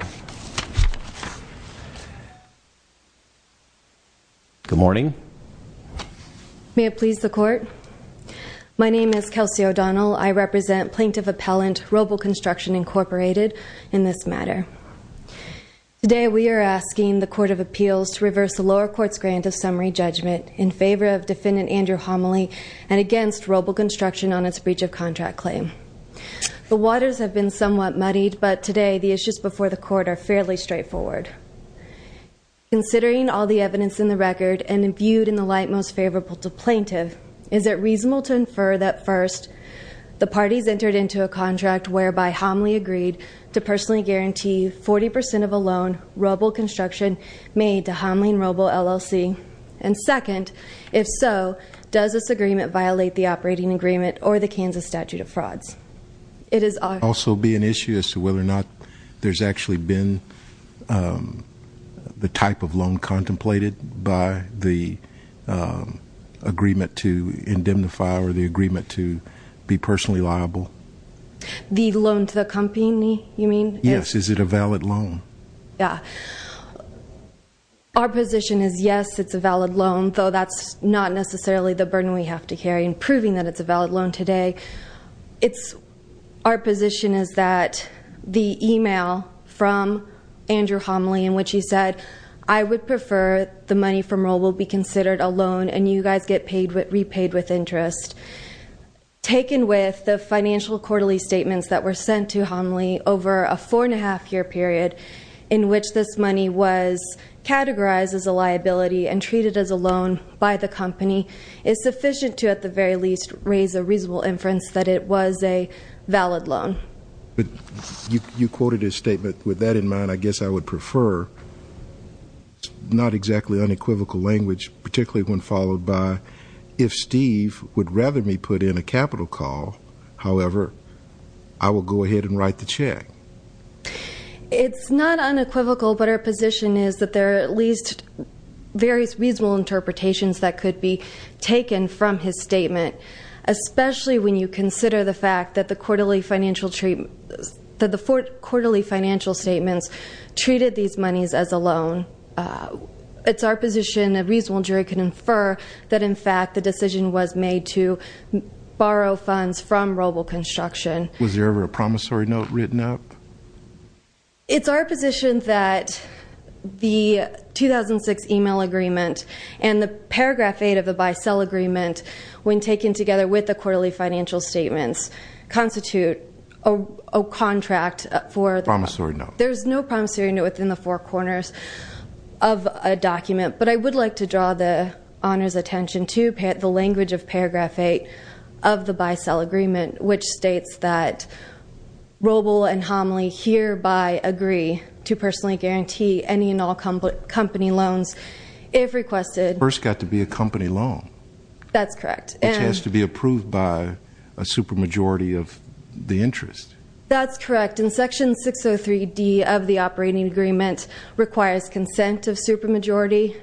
Today, we are asking the Court of Appeals to reverse the lower court's grant of summary judgment in favor of Defendant Andrew Homoly and against Robol Construction on its breach of contract claim. The waters have been somewhat muddied, but today, the issues before the Court are fairly straightforward. Considering all the evidence in the record and imbued in the light most favorable to plaintiff, is it reasonable to infer that first, the parties entered into a contract whereby Homoly agreed to personally guarantee 40% of a loan Robol Construction made to Homoly and Robol LLC? And second, if so, does this agreement violate the operating agreement or the Kansas statute of frauds? Yes, it's a valid loan, though that's not necessarily the burden we have to carry in proving that it's a valid loan today. Our position is that the email from Andrew Homoly in which he said, I would prefer the money from Robol be considered a loan and you guys get repaid with interest. Taken with the financial quarterly statements that were sent to Homoly over a four and a half year period, in which this money was categorized as a liability and treated as a loan by the company, is sufficient to, at the very least, raise a reasonable inference that it was a valid loan. But you quoted his statement, with that in mind, I guess I would prefer not exactly unequivocal language, particularly when followed by, if Steve would rather me put in a capital call, however, I will go ahead and write the check. It's not unequivocal, but our position is that there are at least various reasonable interpretations that could be taken from his statement. Especially when you consider the fact that the quarterly financial statements treated these monies as a loan. It's our position a reasonable jury can infer that in fact the decision was made to borrow funds from Robol Construction. Was there ever a promissory note written up? It's our position that the 2006 email agreement and the paragraph eight of the bi-cell agreement, when taken together with the quarterly financial statements, constitute a contract for- Promissory note. There's no promissory note within the four corners of a document. But I would like to draw the honor's attention to the language of paragraph eight of the bi-cell agreement, which states that Robol and Homley hereby agree to personally guarantee any and all company loans if requested. First got to be a company loan. That's correct. Which has to be approved by a supermajority of the interest. That's correct. In section 603D of the operating agreement requires consent of supermajority.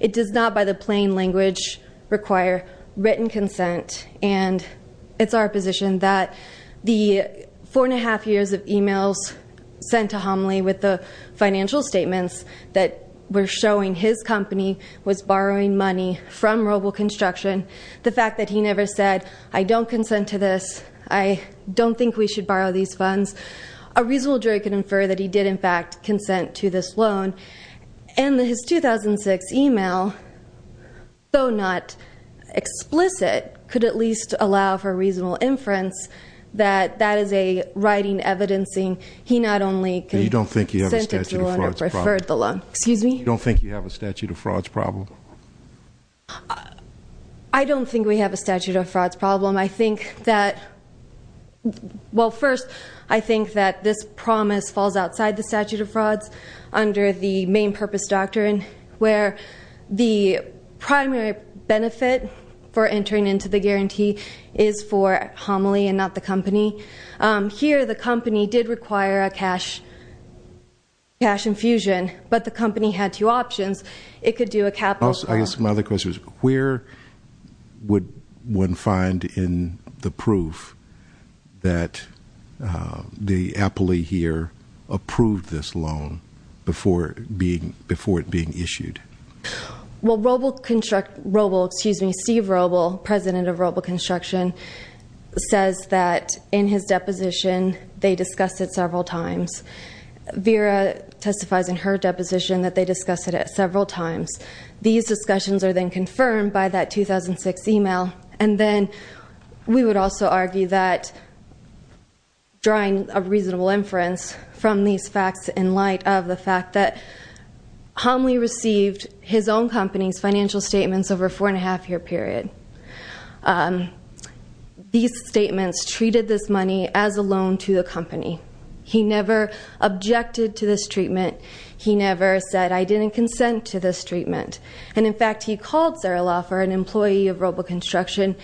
It does not by the plain language require written consent. And it's our position that the four and a half years of emails sent to Homley with the financial statements that were showing his company was borrowing money from Robol Construction. The fact that he never said, I don't consent to this, I don't think we should borrow these funds. A reasonable jury can infer that he did in fact consent to this loan. And his 2006 email, though not explicit, could at least allow for reasonable inference that that is a writing evidencing. He not only- You don't think you have a statute of frauds problem. Preferred the loan. Excuse me? You don't think you have a statute of frauds problem? I don't think we have a statute of frauds problem. I think that, well first, I think that this promise falls outside the statute of frauds. Under the main purpose doctrine, where the primary benefit for entering into the guarantee is for Homley and not the company. Here, the company did require a cash infusion, but the company had two options. It could do a capital- I guess my other question is, where would one find in the proof that the appellee here approved this loan before it being issued? Well, Roble, excuse me, Steve Roble, President of Roble Construction, says that in his deposition, they discussed it several times. Vera testifies in her deposition that they discussed it several times. These discussions are then confirmed by that 2006 email. And then, we would also argue that drawing a reasonable inference from these facts in light of the fact that Homley received his own company's financial statements over a four and a half year period. These statements treated this money as a loan to the company. He never objected to this treatment. He never said, I didn't consent to this treatment. And in fact, he called Sarah Laffer, an employee of Roble Construction,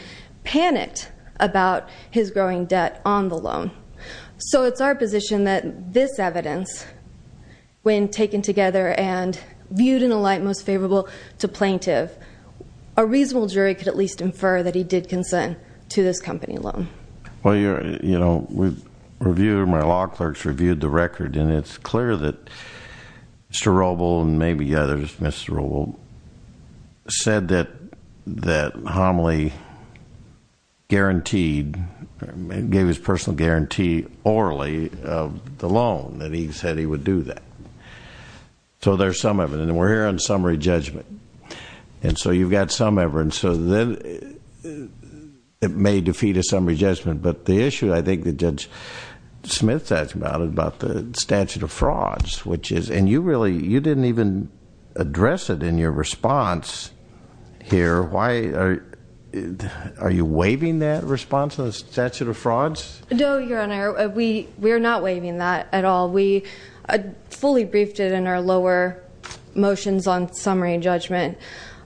panicked about his growing debt on the loan. So it's our position that this evidence, when taken together and viewed in a light most favorable to plaintiff, a reasonable jury could at least infer that he did consent to this company loan. Well, my law clerk's reviewed the record, and it's clear that Mr. Roble, and maybe others, Mr. Roble, said that Homley guaranteed, gave his personal guarantee orally of the loan, that he said he would do that. So there's some evidence, and we're here on summary judgment. And so you've got some evidence, so then it may defeat a summary judgment. But the issue, I think that Judge Smith said about it, about the statute of frauds, which is, and you really, you didn't even address it in your response here. Why, are you waiving that response on the statute of frauds? No, Your Honor, we're not waiving that at all. We fully briefed it in our lower motions on summary judgment.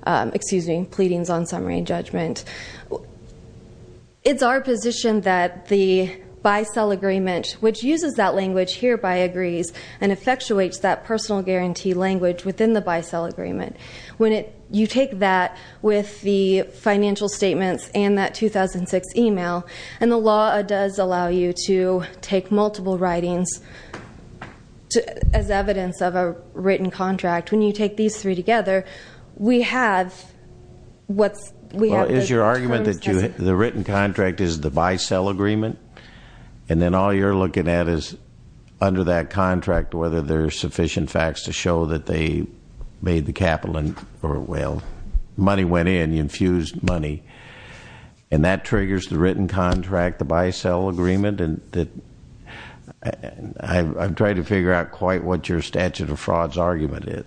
Excuse me, pleadings on summary judgment. It's our position that the buy-sell agreement, which uses that language hereby agrees, and effectuates that personal guarantee language within the buy-sell agreement. When you take that with the financial statements and that 2006 email, and the law does allow you to take multiple writings as evidence of a written contract. When you take these three together, we have what's- We have- Is your argument that the written contract is the buy-sell agreement? And then all you're looking at is under that contract, whether there's sufficient facts to show that they made the capital, or well, money went in, you infused money. And that triggers the written contract, the buy-sell agreement, and I'm trying to figure out quite what your statute of frauds argument is.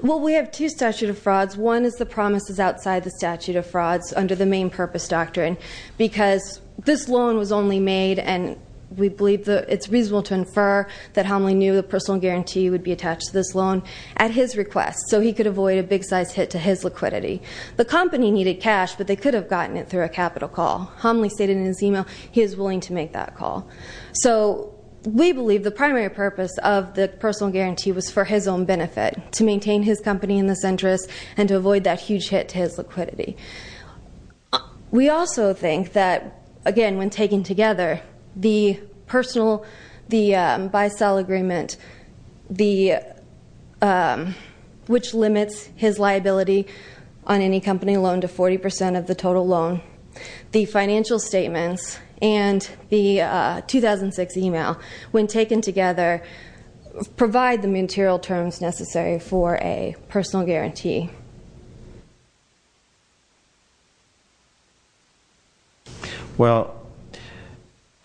Well, we have two statute of frauds. One is the promises outside the statute of frauds under the main purpose doctrine. Because this loan was only made, and we believe it's reasonable to infer that Homley knew the personal guarantee would be attached to this loan at his request, so he could avoid a big size hit to his liquidity. The company needed cash, but they could have gotten it through a capital call. Homley stated in his email, he is willing to make that call. So we believe the primary purpose of the personal guarantee was for his own benefit, to maintain his company in this interest, and to avoid that huge hit to his liquidity. We also think that, again, when taken together, the personal, the buy-sell agreement, which limits his liability on any company loan to 40% of the total loan. The financial statements and the 2006 email, when taken together, provide the material terms necessary for a personal guarantee. Well,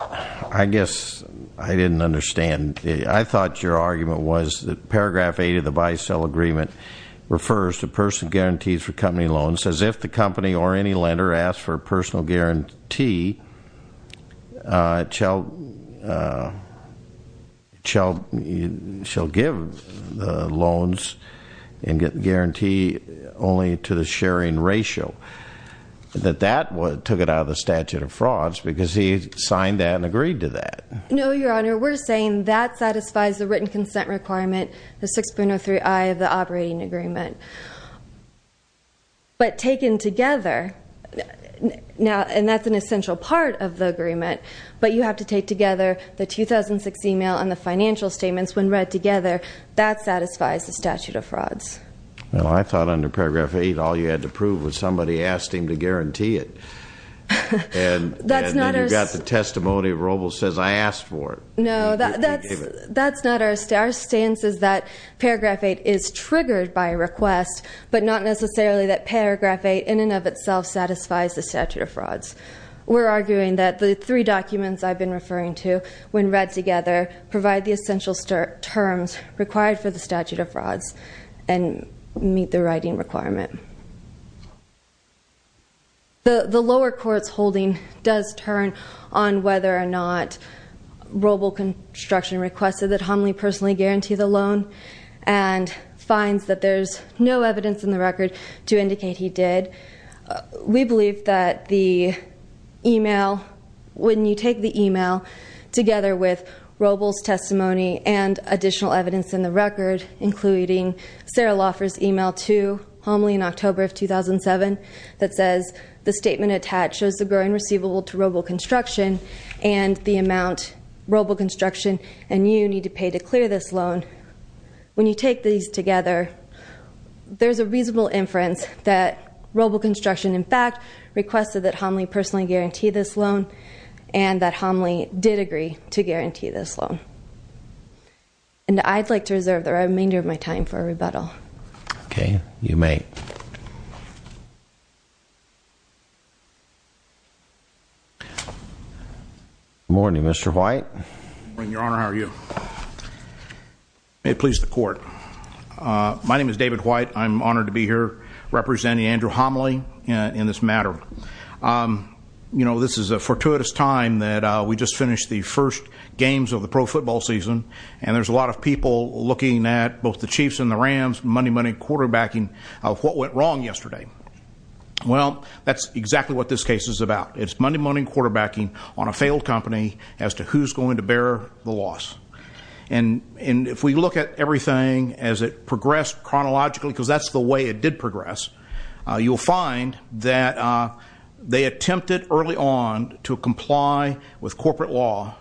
I guess I didn't understand. I thought your argument was that paragraph eight of the buy-sell agreement refers to person guarantees for a personal guarantee, shall give loans and guarantee only to the sharing ratio. That that took it out of the statute of frauds, because he signed that and agreed to that. No, your honor, we're saying that satisfies the written consent requirement, the 6.03i of the operating agreement. But taken together, and that's an essential part of the agreement, but you have to take together the 2006 email and the financial statements when read together. That satisfies the statute of frauds. Well, I thought under paragraph eight, all you had to prove was somebody asked him to guarantee it. And you got the testimony of Robles says, I asked for it. No, that's not our stance. Our stance is that paragraph eight is triggered by a request, but not necessarily that paragraph eight in and of itself satisfies the statute of frauds. We're arguing that the three documents I've been referring to, when read together, provide the essential terms required for the statute of frauds and meet the writing requirement. The lower court's holding does turn on whether or not Roble construction requested that Homley personally guarantee the loan. And finds that there's no evidence in the record to indicate he did. We believe that the email, when you take the email, together with Robles' testimony and additional evidence in the record, including Sarah Laffer's email to Homley in October of 2007 that says, the statement attached shows the growing receivable to Roble Construction and the amount Roble Construction and you need to pay to clear this loan. When you take these together, there's a reasonable inference that Roble Construction, in fact, requested that Homley personally guarantee this loan, and that Homley did agree to guarantee this loan. And I'd like to reserve the remainder of my time for a rebuttal. Okay, you may. Good morning, Mr. White. Good morning, Your Honor, how are you? May it please the court. My name is David White. I'm honored to be here representing Andrew Homley in this matter. This is a fortuitous time that we just finished the first games of the pro football season. And there's a lot of people looking at both the Chiefs and the Rams, money, money, quarterbacking of what went wrong yesterday. Well, that's exactly what this case is about. It's money, money, quarterbacking on a failed company as to who's going to bear the loss. And if we look at everything as it progressed chronologically, because that's the way it did progress, you'll find that they attempted early on to comply with corporate law.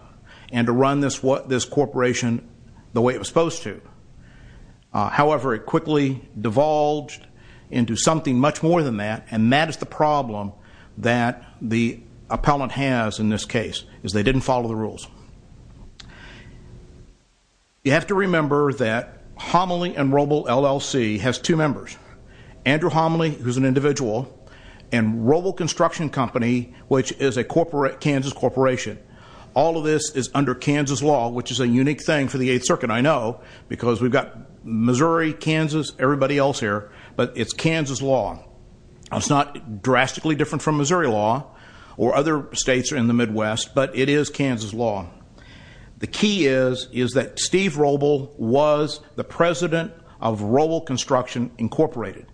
And to run this corporation the way it was supposed to. However, it quickly divulged into something much more than that. And that is the problem that the appellant has in this case, is they didn't follow the rules. You have to remember that Homley and Roble LLC has two members. Andrew Homley, who's an individual, and Roble Construction Company, which is a Kansas corporation. All of this is under Kansas law, which is a unique thing for the 8th Circuit, I know. Because we've got Missouri, Kansas, everybody else here, but it's Kansas law. It's not drastically different from Missouri law, or other states in the Midwest, but it is Kansas law. The key is, is that Steve Roble was the president of Roble Construction Incorporated.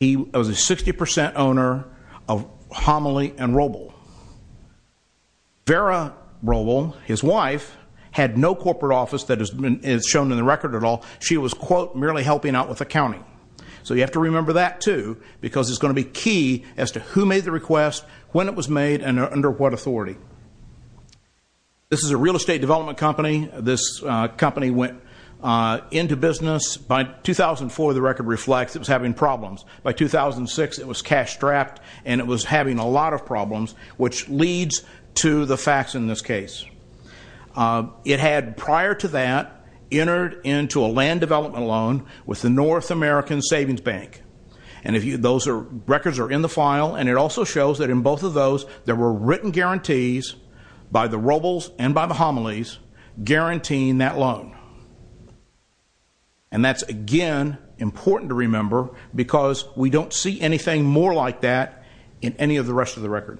He was a 60% owner of Homley and Roble. Vera Roble, his wife, had no corporate office that is shown in the record at all. She was, quote, merely helping out with accounting. So you have to remember that too, because it's going to be key as to who made the request, when it was made, and under what authority. This is a real estate development company. This company went into business, by 2004, the record reflects it was having problems. By 2006, it was cash strapped, and it was having a lot of problems, which leads to the facts in this case. It had, prior to that, entered into a land development loan with the North American Savings Bank. And those records are in the file, and it also shows that in both of those, there were written guarantees by the Robles and by the Homleys, guaranteeing that loan. And that's again, important to remember, because we don't see anything more like that in any of the rest of the record.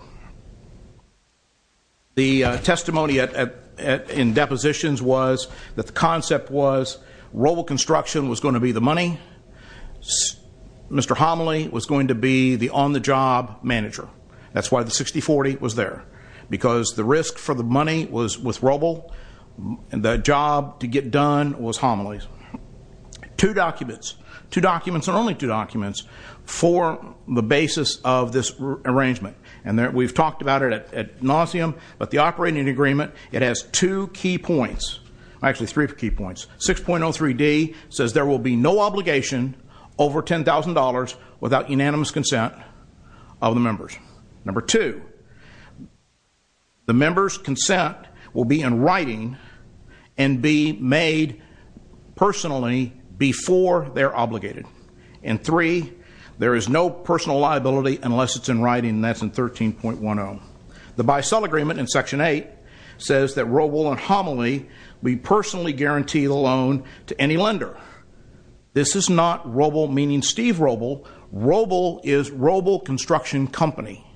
The testimony in depositions was that the concept was Roble Construction was going to be the money. Mr. Homley was going to be the on-the-job manager. That's why the 60-40 was there, because the risk for the money was with Roble, and the job to get done was Homley's. Two documents, two documents, and only two documents for the basis of this arrangement. And we've talked about it at nauseam, but the operating agreement, it has two key points. Actually, three key points. 6.03D says there will be no obligation over $10,000 without unanimous consent of the members. Number two, the members' consent will be in writing and be made personally before they're obligated. And three, there is no personal liability unless it's in writing, and that's in 13.10. The by-sale agreement in section eight says that Roble and Homley will be personally guaranteed a loan to any lender. This is not Roble meaning Steve Roble. Roble is Roble Construction Company.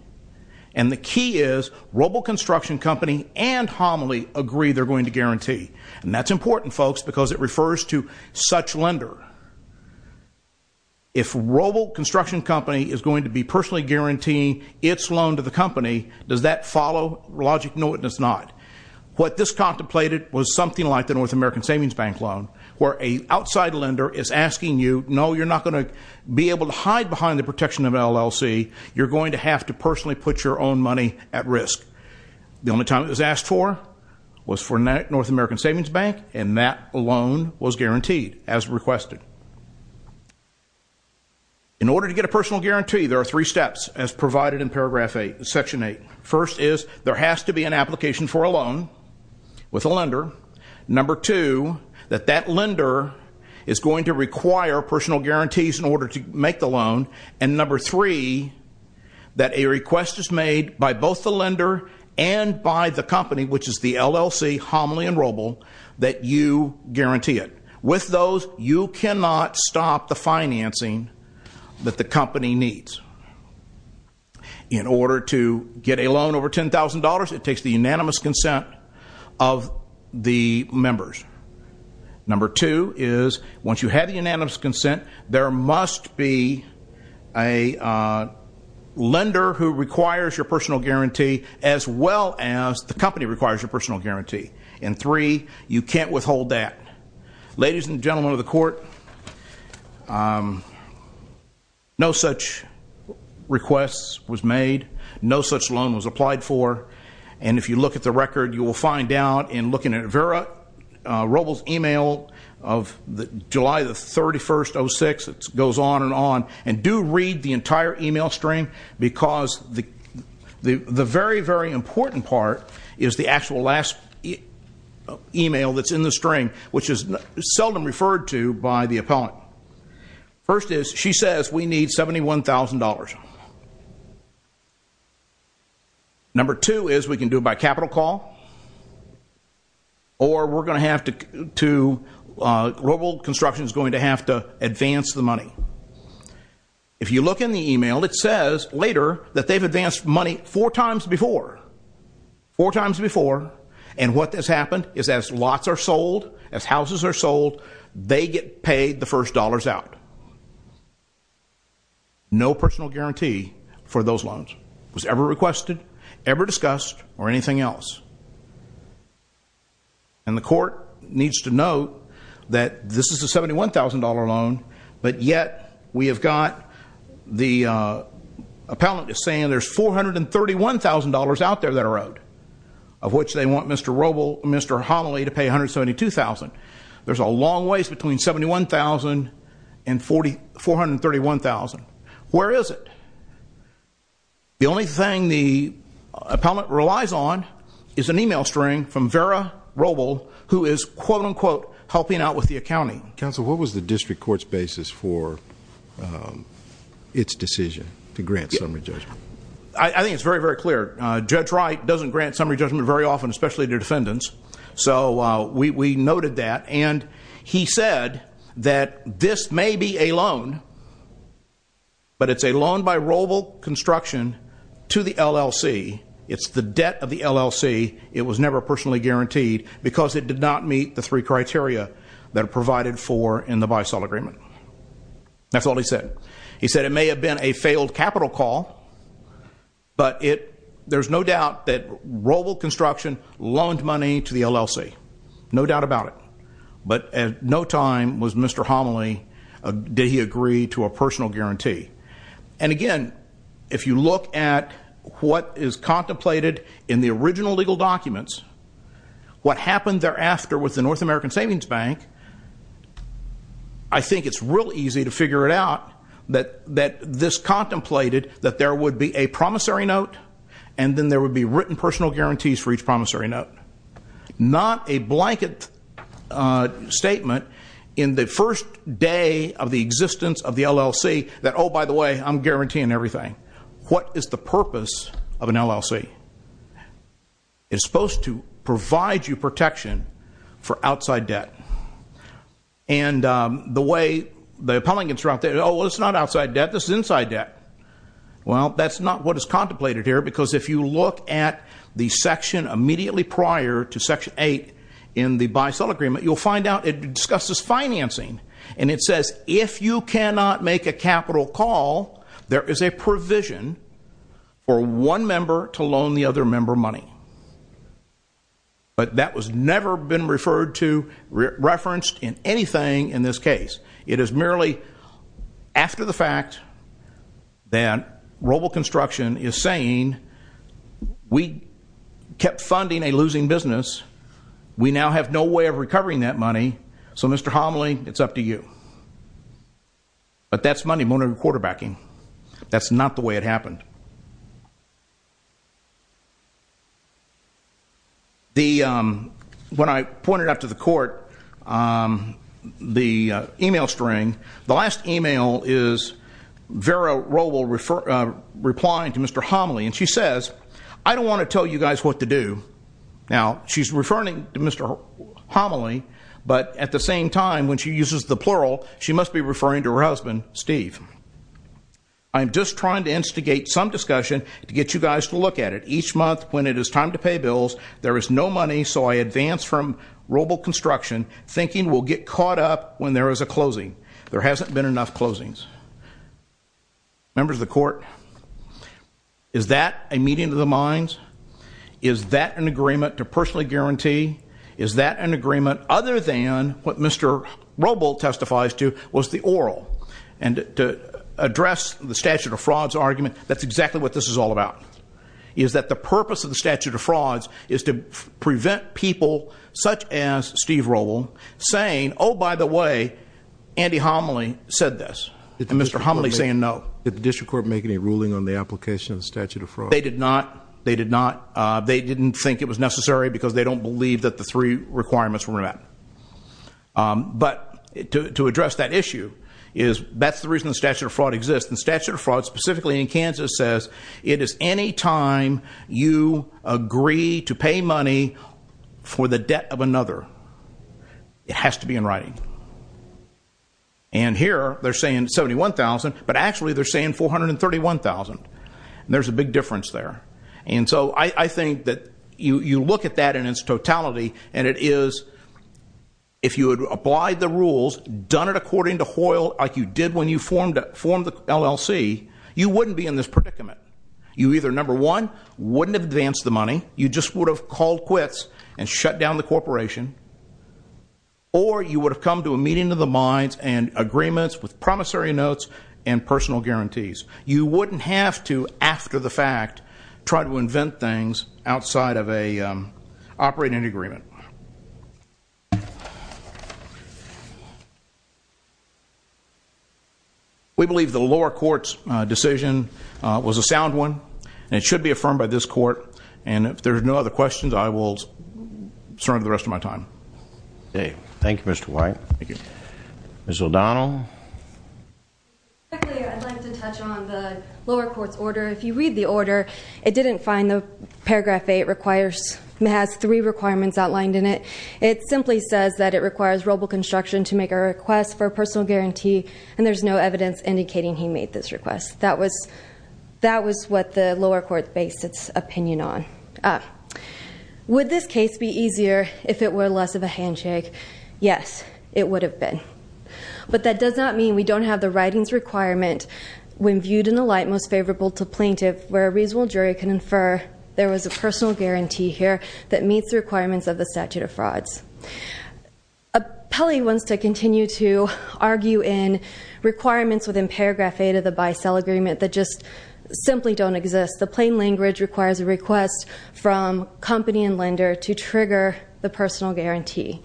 And the key is Roble Construction Company and Homley agree they're going to guarantee. And that's important, folks, because it refers to such lender. Remember, if Roble Construction Company is going to be personally guaranteeing its loan to the company, does that follow logic? No, it does not. What this contemplated was something like the North American Savings Bank loan, where a outside lender is asking you, no, you're not going to be able to hide behind the protection of LLC, you're going to have to personally put your own money at risk. The only time it was asked for was for North American Savings Bank, and that loan was guaranteed as requested. In order to get a personal guarantee, there are three steps as provided in paragraph eight, section eight. First is, there has to be an application for a loan with a lender. Number two, that that lender is going to require personal guarantees in order to make the loan. And number three, that a request is made by both the lender and by the company, which is the LLC, Homley and Roble, that you guarantee it. With those, you cannot stop the financing that the company needs. In order to get a loan over $10,000, it takes the unanimous consent of the members. Number two is, once you have the unanimous consent, there must be a lender who requires your personal guarantee as well as the company requires your personal guarantee. And three, you can't withhold that. Ladies and gentlemen of the court, no such requests was made. No such loan was applied for. And if you look at the record, you will find out in looking at Vera Robles' email of July the 31st, 2006, it goes on and on. And do read the entire email stream, because the very, very important part is the actual last email that's in the string, which is seldom referred to by the appellant. First is, she says we need $71,000. Number two is, we can do it by capital call. Or we're going to have to, Robled Construction's going to have to advance the money. If you look in the email, it says later that they've advanced money four times before. Four times before. And what has happened is as lots are sold, as houses are sold, they get paid the first dollars out. No personal guarantee for those loans. Was ever requested, ever discussed, or anything else. And the court needs to know that this is a $71,000 loan, but yet we have got the appellant is saying there's $431,000 out there that are owed. Of which they want Mr. Robled, Mr. Hollily to pay $172,000. There's a long ways between $71,000 and $431,000. Where is it? The only thing the appellant relies on is an email string from Vera Robled, who is quote, unquote, helping out with the accounting. Council, what was the district court's basis for its decision to grant summary judgment? I think it's very, very clear. Judge Wright doesn't grant summary judgment very often, especially to defendants. So we noted that, and he said that this may be a loan, but it's a loan by Robled Construction to the LLC. It's the debt of the LLC. It was never personally guaranteed because it did not meet the three criteria that are provided for in the by-sale agreement. That's all he said. He said it may have been a failed capital call, but there's no doubt that Robled Construction loaned money to the LLC. No doubt about it. But at no time was Mr. Homily, did he agree to a personal guarantee. And again, if you look at what is contemplated in the original legal documents, what happened thereafter with the North American Savings Bank, I think it's real easy to figure it out. That this contemplated that there would be a promissory note, and then there would be written personal guarantees for each promissory note. Not a blanket statement in the first day of the existence of the LLC that by the way, I'm guaranteeing everything. What is the purpose of an LLC? It's supposed to provide you protection for outside debt. And the way the appellant gets around, well it's not outside debt, this is inside debt. Well, that's not what is contemplated here, because if you look at the section immediately prior to section eight in the buy-sell agreement, you'll find out it discusses financing. And it says, if you cannot make a capital call, there is a provision for one member to loan the other member money. But that was never been referred to, referenced in anything in this case. It is merely after the fact that Roble Construction is saying, we kept funding a losing business, we now have no way of recovering that money. So Mr. Homley, it's up to you. But that's money laundering and quarterbacking. That's not the way it happened. The, when I pointed out to the court the email string. The last email is Vera Roble replying to Mr. Homley. And she says, I don't want to tell you guys what to do. Now, she's referring to Mr. Homley, but at the same time, when she uses the plural, she must be referring to her husband, Steve. I'm just trying to instigate some discussion to get you guys to look at it. Each month, when it is time to pay bills, there is no money, so I advance from Roble Construction, thinking we'll get caught up when there is a closing, there hasn't been enough closings. Members of the court, is that a meeting of the minds? Is that an agreement to personally guarantee? Is that an agreement other than what Mr. Roble testifies to was the oral? And to address the statute of frauds argument, that's exactly what this is all about. Is that the purpose of the statute of frauds is to prevent people such as Steve Roble, saying, by the way, Andy Homley said this, and Mr. Homley saying no. Did the district court make any ruling on the application of the statute of fraud? They did not. They did not. They didn't think it was necessary because they don't believe that the three requirements were met. But to address that issue, that's the reason the statute of fraud exists. The statute of fraud, specifically in Kansas, says it is any time you agree to pay money for the debt of another, it has to be in writing. And here, they're saying 71,000, but actually they're saying 431,000, and there's a big difference there. And so I think that you look at that in its totality, and it is, if you had applied the rules, done it according to Hoyle like you did when you formed the LLC, you wouldn't be in this predicament. You either, number one, wouldn't have advanced the money, you just would have called quits and shut down the corporation. Or you would have come to a meeting of the minds and agreements with promissory notes and personal guarantees. You wouldn't have to, after the fact, try to invent things outside of an operating agreement. We believe the lower court's decision was a sound one, and it should be affirmed by this court. And if there's no other questions, I will surrender the rest of my time. Okay, thank you, Mr. White. Thank you. Ms. O'Donnell? Quickly, I'd like to touch on the lower court's order. If you read the order, it didn't find the paragraph eight has three requirements outlined in it. It simply says that it requires robo-construction to make a request for a personal guarantee, and there's no evidence indicating he made this request. That was what the lower court based its opinion on. Would this case be easier if it were less of a handshake? Yes, it would have been. But that does not mean we don't have the writings requirement, when viewed in the light most favorable to plaintiff, where a reasonable jury can infer there was a personal guarantee here that meets the requirements of the statute of frauds. Appellee wants to continue to argue in requirements within paragraph eight of the buy-sell agreement that just simply don't exist. The plain language requires a request from company and lender to trigger the personal guarantee.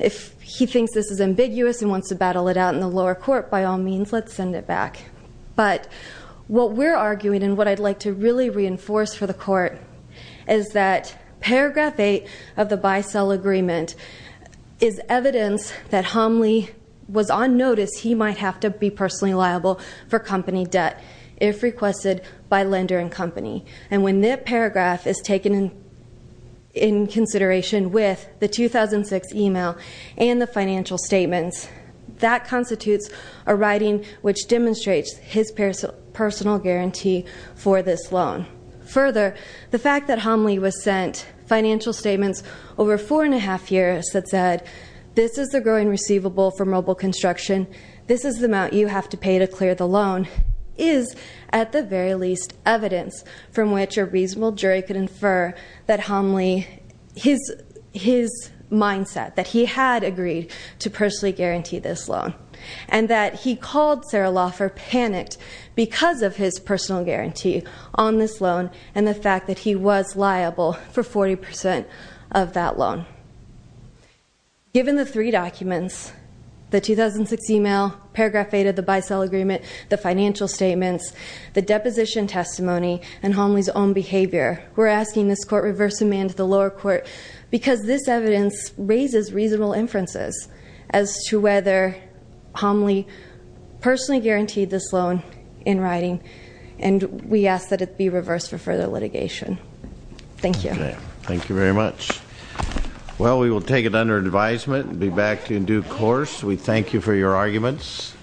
If he thinks this is ambiguous and wants to battle it out in the lower court, by all means, let's send it back. But what we're arguing and what I'd like to really reinforce for the court is that paragraph eight of the buy-sell agreement is evidence that Homley was on notice he might have to be personally liable for company debt if requested by lender and company. And when that paragraph is taken in consideration with the 2006 email and the financial statements, that constitutes a writing which demonstrates his personal guarantee for this loan. Further, the fact that Homley was sent financial statements over four and a half years that said, this is the growing receivable for mobile construction. This is the amount you have to pay to clear the loan, is at the very least evidence from which a reasonable jury could infer that Homley, his mindset, that he had agreed to personally guarantee this loan. And that he called Sarah Laffer panicked because of his personal guarantee on this loan and the fact that he was liable for 40% of that loan. Given the three documents, the 2006 email, paragraph eight of the buy-sell agreement, the financial statements, the deposition testimony, and Homley's own behavior, we're asking this court reverse amend the lower court because this evidence raises reasonable inferences as to whether Homley personally guaranteed this loan in writing. And we ask that it be reversed for further litigation. Thank you. Okay, thank you very much. Well, we will take it under advisement and be back in due course. We thank you for your arguments.